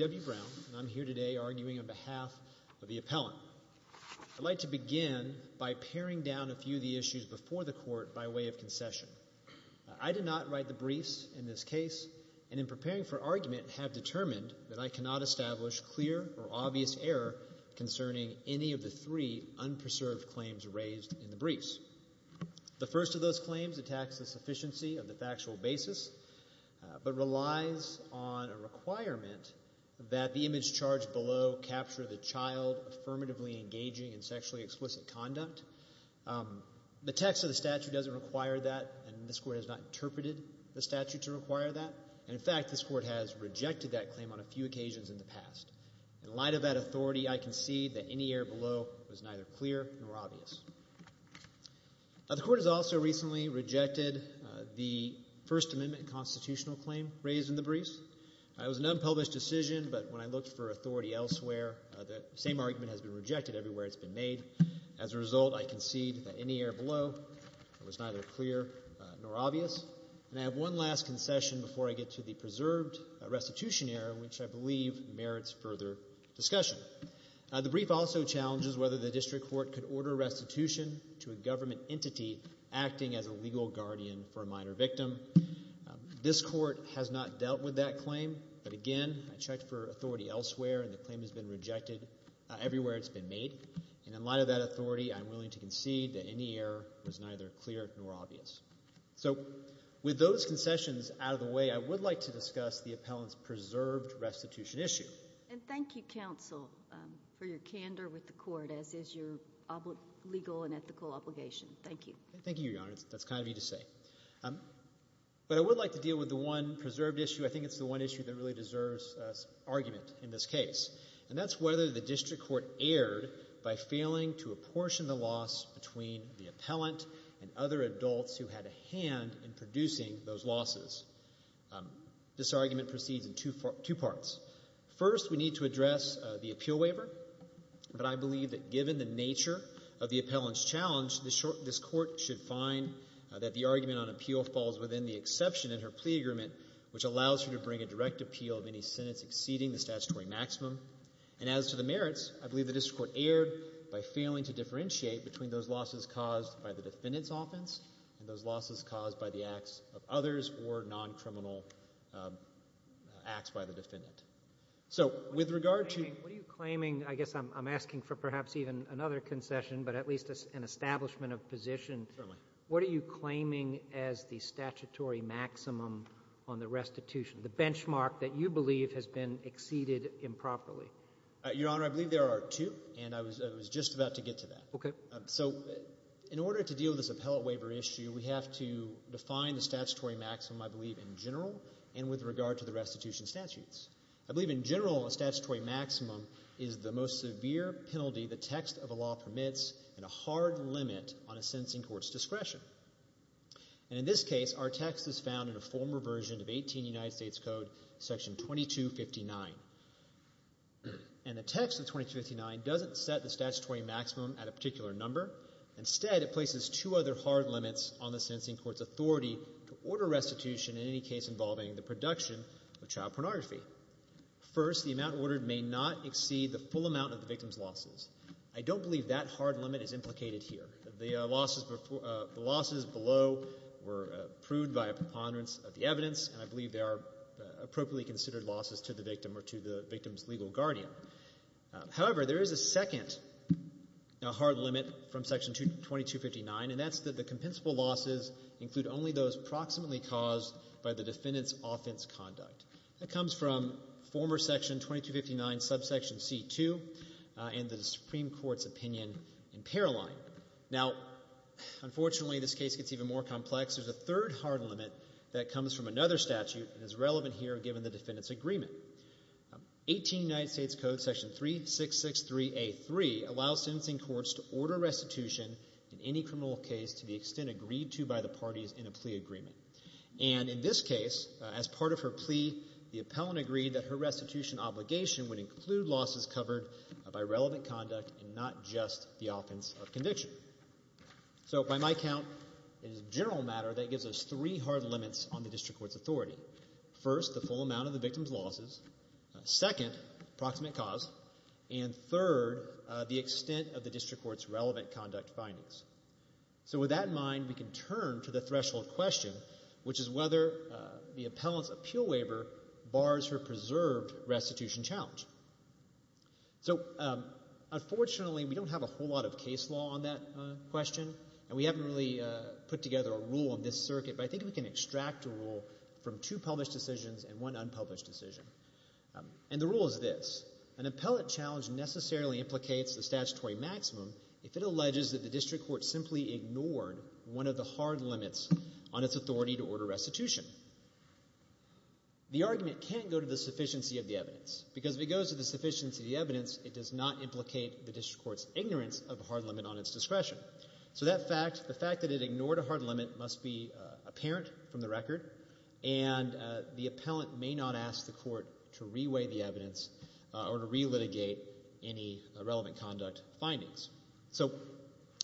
W. Brown and I'm here today arguing on behalf of the appellant. I'd like to begin by paring down a few of the issues before the court by way of concession. I did not write the briefs in this case and in preparing for argument have determined that I cannot establish clear or obvious error concerning any of the three unpreserved claims raised in the briefs. The first of those claims attacks the sufficiency of the factual basis but relies on a requirement that the image charged below capture the child affirmatively engaging in sexually explicit conduct. The text of the statute doesn't require that and this court has not interpreted the statute to require that. In fact, this court has rejected that claim on a few occasions in the past. In light of that authority, I concede that any error below was neither clear nor obvious. The court has also recently rejected the First Amendment constitutional claim raised in the briefs. It was an unpublished decision but when I looked for authority elsewhere, that same argument has been rejected everywhere it's been made. As a result, I concede that any error below was neither clear nor obvious. And I have one last concession before I get to the preserved restitution error which I believe merits further discussion. The brief also challenges whether the district court could order restitution to a government entity acting as a legal guardian for a minor victim. This court has not dealt with that claim but again, I checked for authority elsewhere and the claim has been rejected everywhere it's been made. And in light of that authority, I'm willing to concede that any error was neither clear nor obvious. So with those concessions out of the way, I would like to discuss the agenda with the court as is your legal and ethical obligation. Thank you. Thank you, Your Honor. That's kind of neat to say. But I would like to deal with the one preserved issue. I think it's the one issue that really deserves argument in this case and that's whether the district court erred by failing to apportion the loss between the appellant and other adults who had a hand in producing those losses. This argument proceeds in two parts. First, we need to address the appeal waiver. But I believe that given the nature of the appellant's challenge, this court should find that the argument on appeal falls within the exception in her plea agreement which allows her to bring a direct appeal of any sentence exceeding the statutory maximum. And as to the merits, I believe the district court erred by failing to differentiate between those losses caused by the defendant's offense and those losses caused by the acts of others or non-criminal acts by the defendant. So with regard to... What are you claiming? I guess I'm asking for perhaps even another concession, but at least an establishment of position. Certainly. What are you claiming as the statutory maximum on the restitution, the benchmark that you believe has been exceeded improperly? Your Honor, I believe there are two and I was just about to get to that. Okay. So in order to deal with this appellate waiver issue, we have to define the statutory maximum, I believe, in general and with regard to the restitution statutes. I believe in general a statutory maximum is the most severe penalty the text of a law permits and a hard limit on a sentencing court's discretion. And in this case, our text is found in a former version of 18 United States Code, section 2259. And the text of 2259 doesn't set the statutory maximum at a particular number. Instead, it places two other hard limits on the sentencing court's authority to order restitution in any case involving the production of child pornography. First, the amount ordered may not exceed the full amount of the victim's losses. I don't believe that hard limit is implicated here. The losses below were proved by a preponderance of the evidence and I believe they are appropriately considered losses to the victim or to the victim's legal guardian. However, there is a second hard limit from section 2259 and that's that the compensable losses include only those proximately caused by the defendant's offense conduct. That comes from former section 2259 subsection C2 and the Supreme Court's opinion in Paroline. Now, unfortunately, this case gets even more complex. There's a third hard limit that comes from another statute and is relevant here given the defendant's agreement. 18 United States Code section 3663A3 allows sentencing courts to order restitution in any criminal case to the extent agreed to by the parties in a plea agreement. And in this case, as part of her plea, the appellant agreed that her restitution obligation would include losses covered by relevant conduct and not just the offense of conviction. So by my count, in general matter, that gives us three hard limits on the district court's authority. First, the full amount of the victim's losses. Second, proximate cause. And third, the extent of the district court's relevant conduct findings. So with that in mind, we can turn to the threshold question, which is whether the appellant's appeal waiver bars her preserved restitution challenge. So unfortunately, we don't have a whole lot of case law on that question and we haven't really put together a rule on this to extract a rule from two published decisions and one unpublished decision. And the rule is this. An appellant challenge necessarily implicates the statutory maximum if it alleges that the district court simply ignored one of the hard limits on its authority to order restitution. The argument can't go to the sufficiency of the evidence because if it goes to the sufficiency of the evidence, it does not implicate the district court's ignorance of a hard limit on its discretion. So that fact, the fact that it ignored a hard limit must be apparent from the record and the appellant may not ask the court to re-weigh the evidence or to re-litigate any relevant conduct findings. So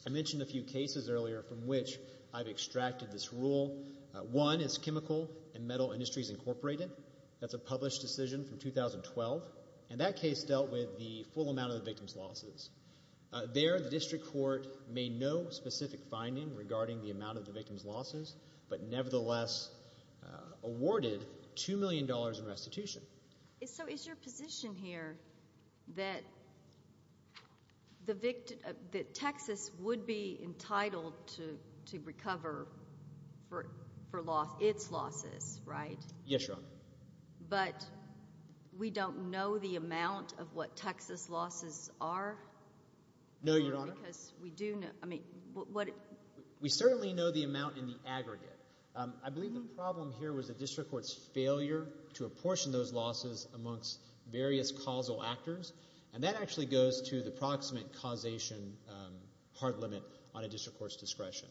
I mentioned a few cases earlier from which I've extracted this rule. One is Chemical and Metal Industries Incorporated. That's a published decision from 2012 and that case dealt with the full amount of the victim's losses. There the district court made no specific finding regarding the amount of the victim's losses but nevertheless awarded $2 million in restitution. So is your position here that Texas would be entitled to recover for its losses, right? Yes, Your Honor. But we don't know the amount of what Texas losses are? No, Your Honor. We certainly know the amount of what Texas losses are, but we don't know the aggregate. I believe the problem here was the district court's failure to apportion those losses amongst various causal actors and that actually goes to the proximate causation hard limit on a district court's discretion.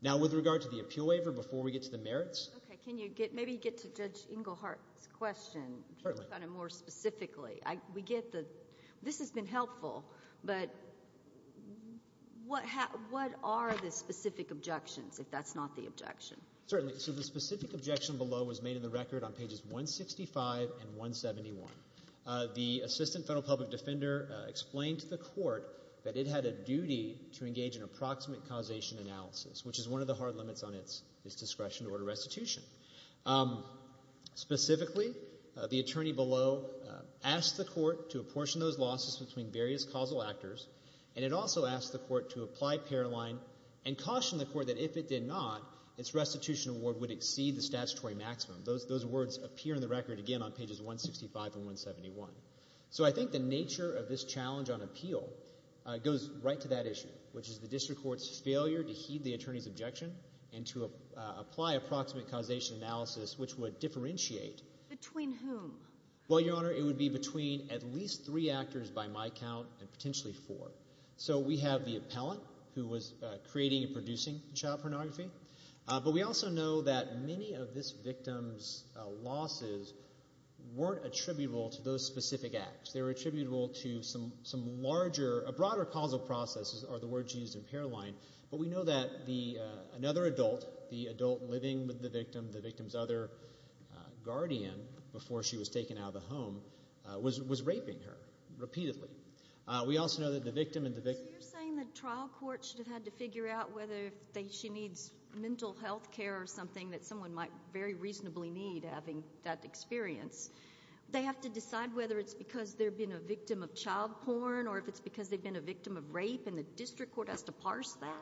Now with regard to the appeal waiver, before we get to the merits. Okay, can you get, maybe you get to Judge Englehart's question. Certainly. Kind of more specifically. We get the, this has been helpful, but what are the specific objections, if that's not the objection? Certainly. So the specific objection below was made in the record on pages 165 and 171. The Assistant Federal Public Defender explained to the court that it had a duty to engage in approximate causation analysis, which is one of the hard limits on its discretion to order restitution. Specifically, the attorney below asked the court to apportion those losses between various causal actors and it also asked the court to apply paroline and caution the court that if it did not, its restitution award would exceed the statutory maximum. Those words appear in the record again on pages 165 and 171. So I think the nature of this challenge on appeal goes right to that issue, which is the district court's failure to heed the causation analysis, which would differentiate. Between whom? Well, Your Honor, it would be between at least three actors by my count and potentially four. So we have the appellant who was creating and producing child pornography, but we also know that many of this victim's losses weren't attributable to those specific acts. They were attributable to some larger, a broader causal process are the words used in paroline, but we know that another adult, the adult living with the victim, the victim's other guardian before she was taken out of the home, was raping her repeatedly. We also know that the victim and the victim. So you're saying the trial court should have had to figure out whether she needs mental health care or something that someone might very reasonably need having that experience. They have to decide whether it's because they've been a victim of child porn or if it's because they've been a victim of rape and the district court has to parse that?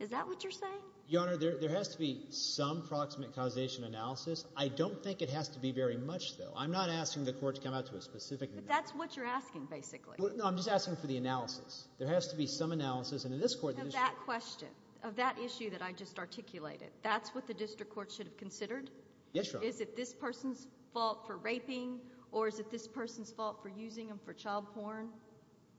Is that what you're saying? Your Honor, there has to be some proximate causation analysis. I don't think it has to be very much, though. I'm not asking the court to come out to a specific... But that's what you're asking, basically. No, I'm just asking for the analysis. There has to be some analysis and in this court... Of that question, of that issue that I just articulated, that's what the district court should have considered? Yes, Your Honor. Is it this person's fault for raping or is it this person's fault for using them for child porn?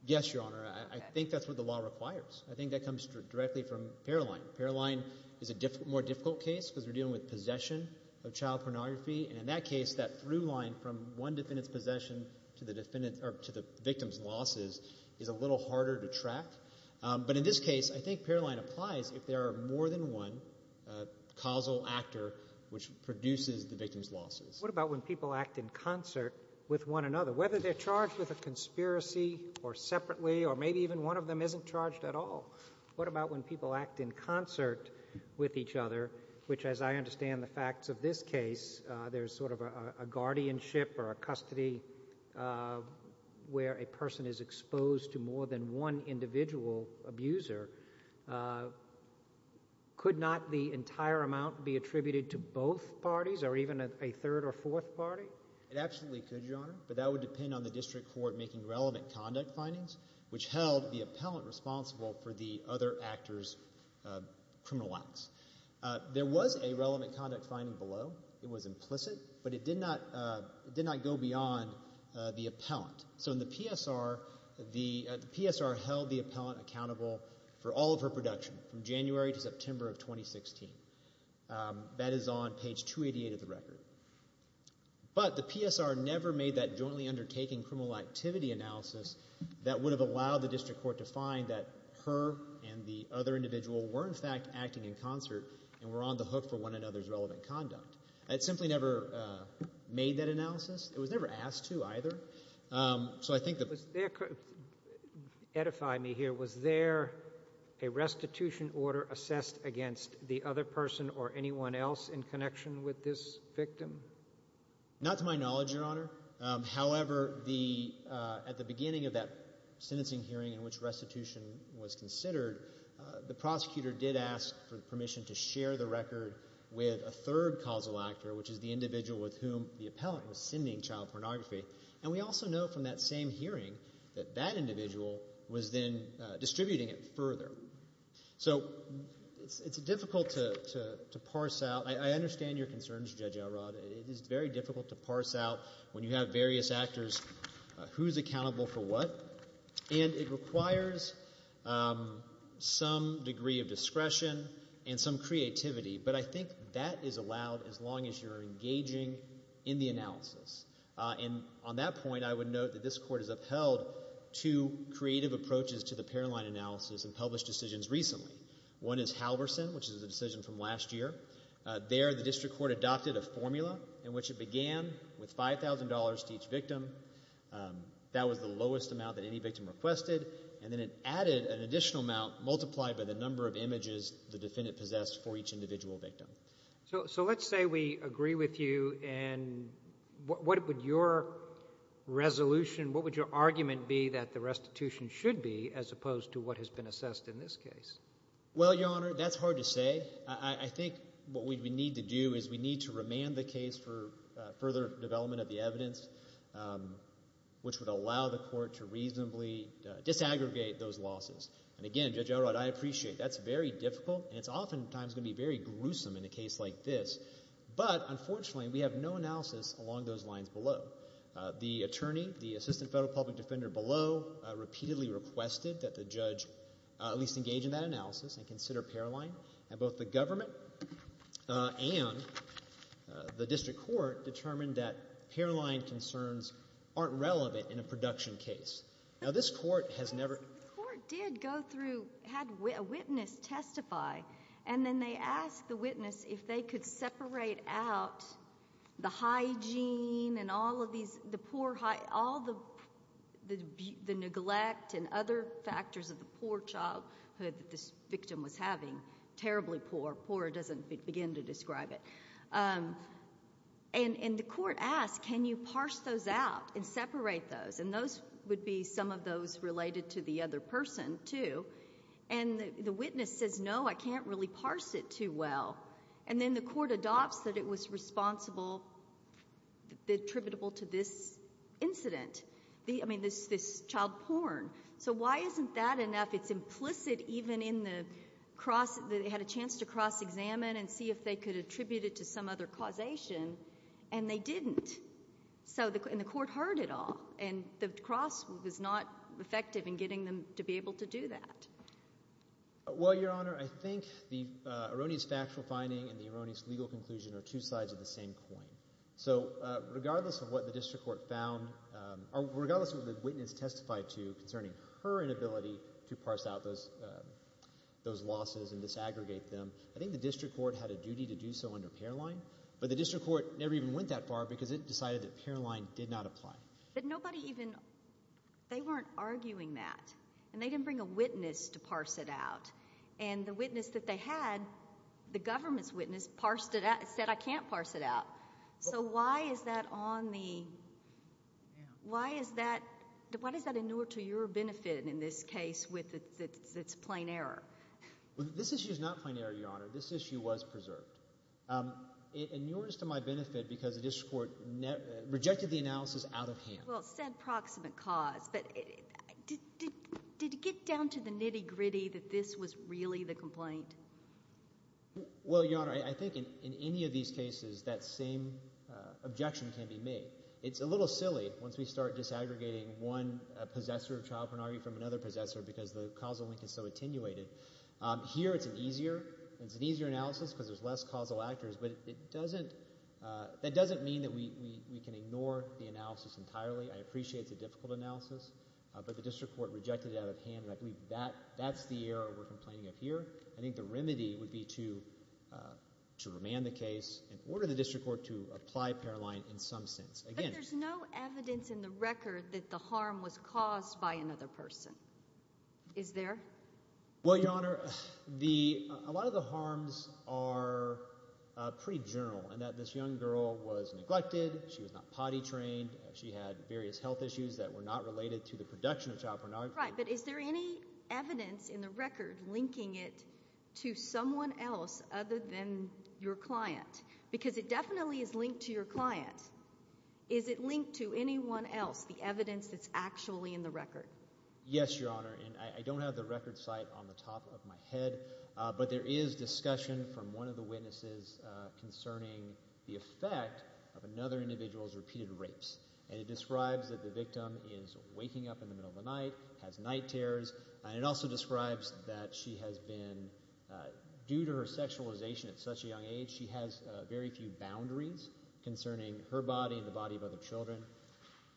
Yes, Your Honor. I think that's what the law requires. I think that comes directly from Paroline. Paroline is a more difficult case because we're dealing with possession of child pornography and in that case, that through line from one defendant's possession to the victim's losses is a little harder to track. But in this case, I think Paroline applies if there are more than one causal actor which produces the victim's losses. What about when people act in concert with each other? Maybe even one of them isn't charged at all. What about when people act in concert with each other, which as I understand the facts of this case, there's sort of a guardianship or a custody where a person is exposed to more than one individual abuser. Could not the entire amount be attributed to both parties or even a third or fourth party? It absolutely could, Your Honor, but that would depend on the district court making relevant conduct findings which held the appellant responsible for the other actor's criminal acts. There was a relevant conduct finding below. It was implicit, but it did not go beyond the appellant. So in the PSR, the PSR held the appellant accountable for all of her production from January to September of 2016. That is on page 288 of the record. But, the PSR never made that jointly undertaking criminal activity analysis that would have allowed the district court to find that her and the other individual were in fact acting in concert and were on the hook for one another's relevant conduct. It simply never made that analysis. It was never asked to either. So I think that... Edify me here. Was there a restitution order assessed against the other person or anyone else in connection with this victim? Not to my knowledge, Your Honor. However, at the beginning of that sentencing hearing in which restitution was considered, the prosecutor did ask for permission to share the record with a third causal actor, which is the individual with whom the appellant was sending child pornography. And we also know from that same hearing that that individual was then distributing it further. So it's difficult to parse out I understand your concerns, Judge Elrod. It is very difficult to parse out when you have various actors who's accountable for what. And it requires some degree of discretion and some creativity. But I think that is allowed as long as you're engaging in the analysis. And on that point, I would note that this court has upheld two creative approaches to the Paroline analysis and published decisions recently. One is Halverson, which is a decision from last year. There, the district court adopted a formula in which it began with $5,000 to each victim. That was the lowest amount that any victim requested. And then it added an additional amount multiplied by the number of images the defendant possessed for each individual victim. So let's say we agree with you. And what would your resolution, what would your argument be that the restitution should be as opposed to what has been assessed in this case? Well, Your Honor, that's hard to say. I think what we need to do is we need to remand the case for further development of the evidence, which would allow the court to reasonably disaggregate those losses. And again, Judge Elrod, I appreciate that's very difficult and it's oftentimes going to be very gruesome in a case like this. But unfortunately, we have no analysis along those lines below. The attorney, the assistant federal public offender below, repeatedly requested that the judge at least engage in that analysis and consider Paroline. And both the government and the district court determined that Paroline concerns aren't relevant in a production case. Now, this court has never... The court did go through, had a witness testify, and then they asked the witness if they could parse out the neglect and other factors of the poor childhood that this victim was having, terribly poor. Poor doesn't begin to describe it. And the court asked, can you parse those out and separate those? And those would be some of those related to the other person, too. And the witness says, no, I can't really parse it too well. And then the court adopts that it was responsible, attributable to this incident. I mean, this child porn. So why isn't that enough? It's implicit even in the cross, they had a chance to cross-examine and see if they could attribute it to some other causation, and they didn't. And the court heard it all. And the cross was not effective in getting them to be able to do that. Well, Your Honor, I think the erroneous factual finding and the erroneous legal conclusion are two sides of the same coin. So regardless of what the district court found, or regardless of what the witness testified to concerning her inability to parse out those losses and disaggregate them, I think the district court had a duty to do so under Paroline. But the district court never even went that far because it decided that Paroline did not apply. But nobody even, they weren't arguing that. And they didn't bring a witness to parse it out. And the witness that they had, the government's witness, parsed it out, said I can't parse it out. So why is that on the, why is that, why does that inure to your benefit in this case with its plain error? This issue is not plain error, Your Honor. This issue was preserved. It inures to my benefit. Well, said proximate cause, but did it get down to the nitty gritty that this was really the complaint? Well, Your Honor, I think in any of these cases that same objection can be made. It's a little silly once we start disaggregating one possessor of child pornography from another possessor because the causal link is so attenuated. Here it's an easier, it's an easier analysis because there's less causal actors, but it doesn't, that doesn't mean that we can ignore the analysis entirely. I appreciate it's a difficult analysis, but the district court rejected it out of hand, and I believe that, that's the error we're complaining of here. I think the remedy would be to, to remand the case and order the district court to apply Paroline in some sense. But there's no evidence in the record that the harm was caused by another person. Is there? Well, Your Honor, the, a lot of the harms are pretty general in that this young girl was neglected, she was not potty trained, she had various health issues that were not related to the production of child pornography. Right, but is there any evidence in the record linking it to someone else other than your client? Because it definitely is linked to your client. Is it linked to anyone else, the evidence that's actually in the record? Yes, Your Honor, and I don't have the record site on the top of my head, but there is discussion from one of the witnesses concerning the effect of another individual's repeated rapes. And it describes that the victim is waking up in the middle of the night, has night terrors, and it also describes that she has been, due to her sexualization at such a young age, she has very few boundaries concerning her body and the body of other children.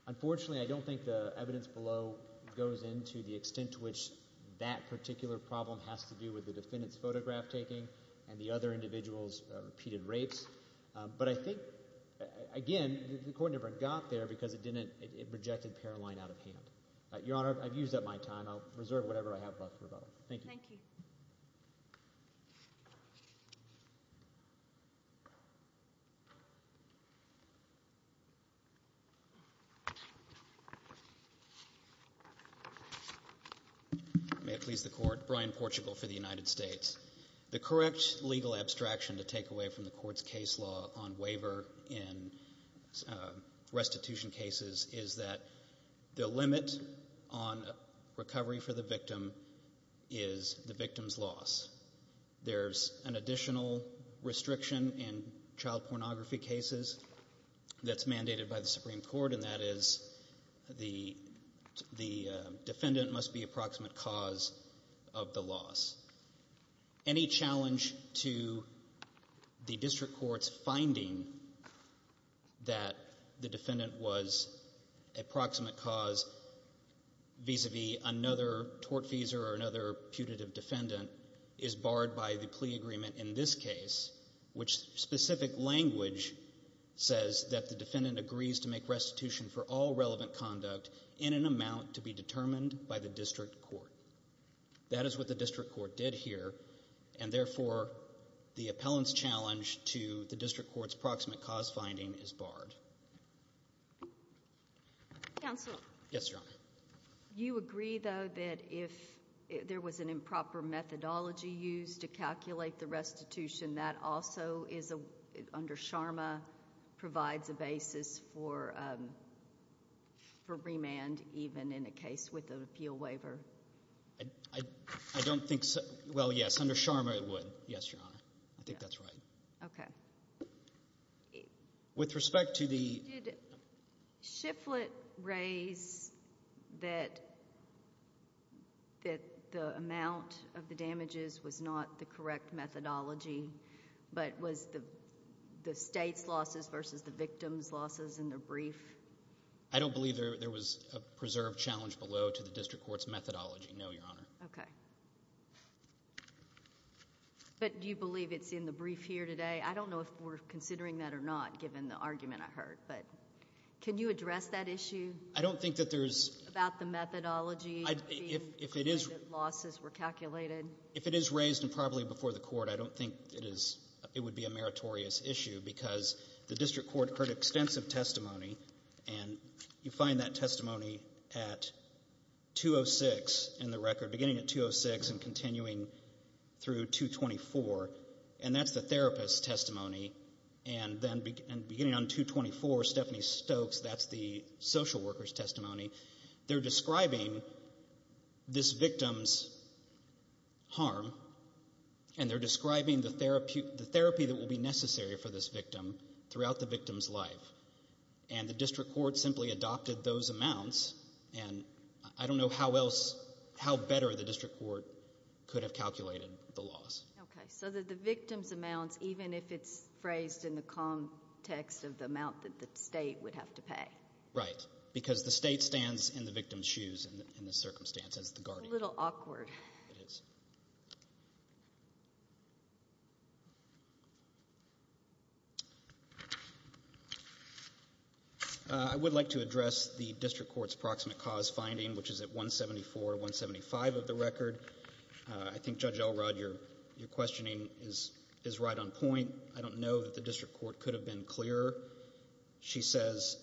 Unfortunately, I don't think the evidence below goes into the extent to which that particular problem has to do with the defendant's photograph taking and the other individual's repeated rapes. But I think, again, the court never got there because it didn't, it rejected Paroline out of hand. Your Honor, I've used up my time. I'll reserve whatever I have left for both. Thank you. Thank you. May it please the Court. Brian Portugal for the United States. The correct legal abstraction to take away from the Court's case law on waiver in restitution cases is that the limit on recovery for the victim is the victim's loss. There's an additional restriction in child pornography cases that's mandated by the Supreme Court, and that is the defendant must be a proximate cause of the loss. Any challenge to the District Court's finding that the defendant was a proximate cause vis-a-vis another tortfeasor or another putative defendant is barred by the plea agreement in this case, which specific language says that the defendant agrees to make restitution for all relevant conduct in an amount to be determined by the District Court. That is what the District Court did here, and therefore the appellant's challenge to the District Court's proximate cause finding is barred. Counsel. Yes, Your Honor. You agree, though, that if there was an improper methodology used to calculate the restitution, that also is under SHARMA provides a basis for remand even in a case with an appeal waiver? I don't think so. Well, yes, under SHARMA it would. Yes, Your Honor. I think that's right. Okay. With respect to the Did Shifflett raise that the amount of the damages was not the correct methodology, but was the state's losses versus the victim's losses in the brief? I don't believe there was a preserved challenge below to the District Court's methodology, no, Your Honor. Okay. But do you believe it's in the brief here today? I don't know if we're considering that or not, given the argument I heard, but can you address that issue? I don't think that there's About the methodology, if the losses were calculated? If it is raised improperly before the court, I don't think it would be a meritorious issue because the District Court heard extensive testimony, and you find that testimony at 206 in the record, beginning at 206 and continuing through 224, and that's the therapist's testimony, and then beginning on 224, Stephanie Stokes, that's the social worker's testimony. They're describing this victim's harm, and they're describing the therapy that will be necessary for this victim throughout the victim's life, and the District Court simply adopted those amounts, and I don't know how better the District Court could have calculated the loss. Okay. So the victim's amounts, even if it's phrased in the context of the amount that the state would have to pay? Right, because the state stands in the victim's shoes in this circumstance as the guardian. It's a little awkward. I would like to address the District Court's approximate cause finding, which is at 174-175 of the record. I think Judge Elrod, your questioning is right on point. I don't know that the District Court could have been clearer. She says,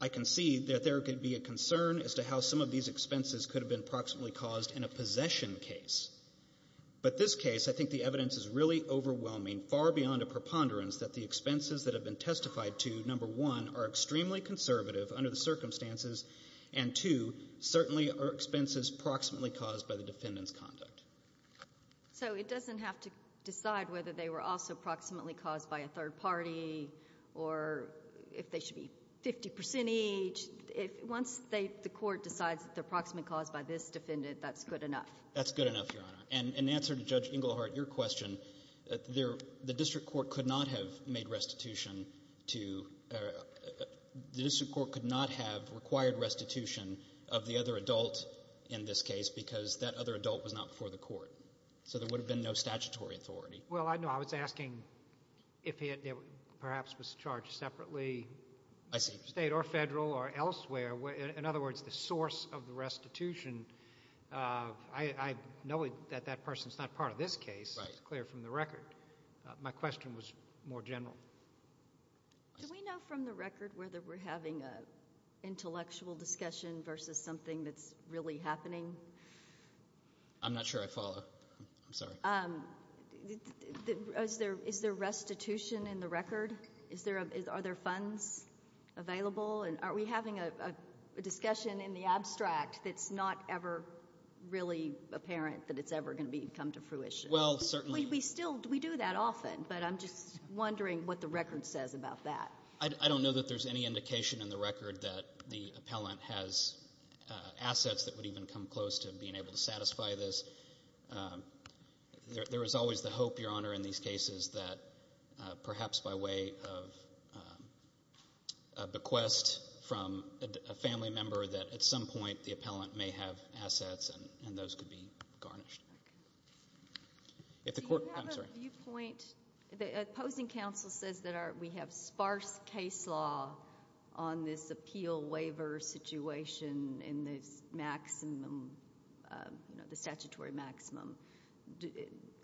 I can see that there could be a concern as to how some of these expenses could have been proximately caused in a possession case, but this case I think the evidence is really overwhelming, far beyond a preponderance that the expenses that have been testified to, number one, are extremely conservative under the circumstances, and two, certainly are expenses proximately caused by the defendant's conduct. So it doesn't have to decide whether they were also proximately caused by a third party or if they should be 50% each. Once the court decides that they're proximately caused by this defendant, that's good enough. That's good enough, Your Honor. And in answer to Judge Englehart, your question, the District Court could not have made restitution to, the District Court could not have required restitution of the other adult in this case because that other adult was not before the court. So there would have been no statutory authority. Well, no, I was asking if it perhaps was charged separately, state or federal or elsewhere. In other words, the source of the restitution, I know that that person's not part of this case, it's clear from the record. My question was more general. Do we know from the record whether we're having an intellectual discussion versus something that's really happening? I'm not sure I follow. I'm sorry. Is there restitution in the record? Are there funds available? And are we having a discussion in the abstract that's not ever really apparent that it's ever going to come to fruition? Well, certainly. We still, we do that often, but I'm just wondering what the record says about that. I don't know that there's any indication in the record that the appellant has assets that would even come close to being able to satisfy this. There is always the hope, Your Honor, in these cases that perhaps by way of a bequest from a family member that at some point the appellant may have assets and those could be garnished. Do you have a viewpoint, the opposing counsel says that we have sparse case law on this case, the statutory maximum.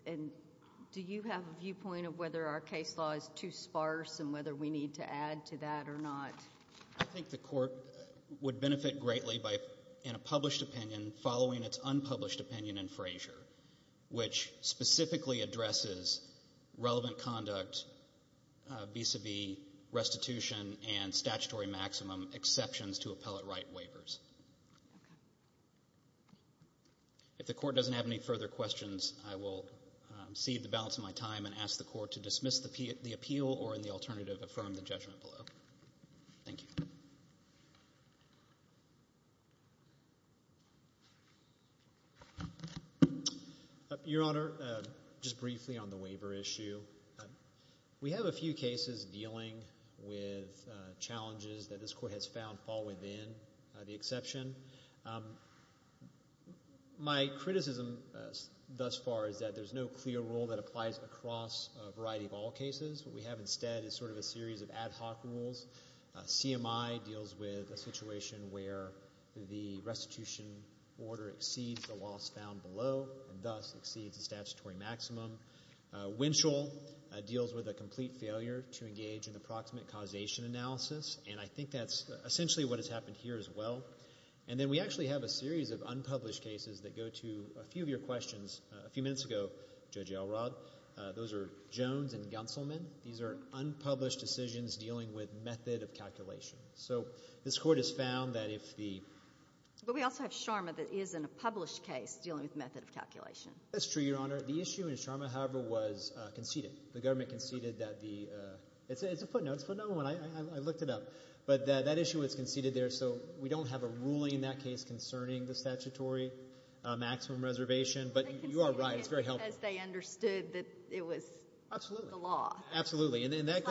Do you have a viewpoint of whether our case law is too sparse and whether we need to add to that or not? I think the court would benefit greatly in a published opinion following its unpublished opinion in Frazier, which specifically addresses relevant conduct, vis-a-vis restitution and to appellate right waivers. If the court doesn't have any further questions, I will cede the balance of my time and ask the court to dismiss the appeal or in the alternative, affirm the judgment below. Thank you. Your Honor, just briefly on the waiver issue, we have a few cases dealing with challenges that this court has found fall within the exception. My criticism thus far is that there is no clear rule that applies across a variety of all cases. What we have instead is sort of a series of ad hoc rules. CMI deals with a situation where the restitution order exceeds the loss found below and thus exceeds the statutory maximum. Winchell deals with a complete failure to engage in the proximate causation analysis and I think that's essentially what has happened here as well. And then we actually have a series of unpublished cases that go to a few of your questions a few minutes ago, Judge Elrod. Those are Jones and Gunselman. These are unpublished decisions dealing with method of calculation. So this court has found that if the... But we also have Sharma that is in a published case dealing with method of calculation. That's true, Your Honor. The issue in Sharma, however, was conceded. The government conceded that the... It's a footnote. It's a footnote. I looked it up. But that issue was conceded there. So we don't have a ruling in that case concerning the statutory maximum reservation. But you are right. It's very helpful. They conceded it because they understood that it was the law. Absolutely. And that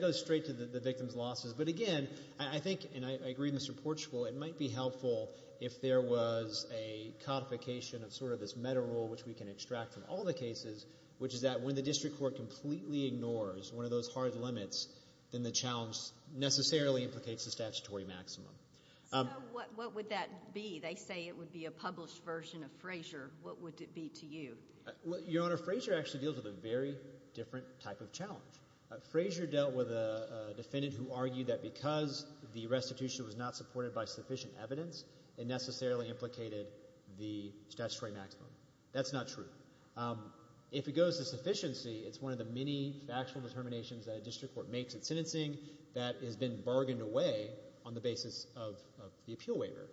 goes straight to the victim's losses. But again, I think, and I agree with Mr. Portchoul, it might be helpful if there was a codification of sort of this federal rule, which we can extract from all the cases, which is that when the district court completely ignores one of those hard limits, then the challenge necessarily implicates the statutory maximum. What would that be? They say it would be a published version of Frazier. What would it be to you? Your Honor, Frazier actually deals with a very different type of challenge. Frazier dealt with a defendant who argued that because the restitution was not supported by sufficient evidence, it necessarily implicated the statutory maximum. That's not true. If it goes to sufficiency, it's one of the many factual determinations that a district court makes at sentencing that has been bargained away on the basis of the appeal waiver.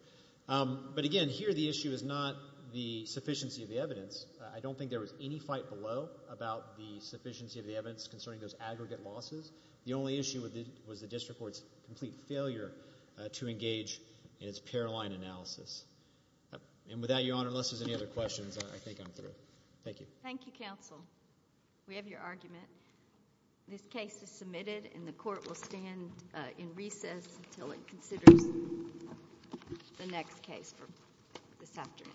But again, here the issue is not the sufficiency of the evidence. I don't think there was any fight below about the sufficiency of the evidence concerning those aggregate losses. The only issue was the district court's complete failure to engage in its pair line analysis. And with that, Your Honor, unless there's any other questions, I think I'm through. Thank you. Thank you, counsel. We have your argument. This case is submitted and the court will stand in recess until it considers the next case for this afternoon.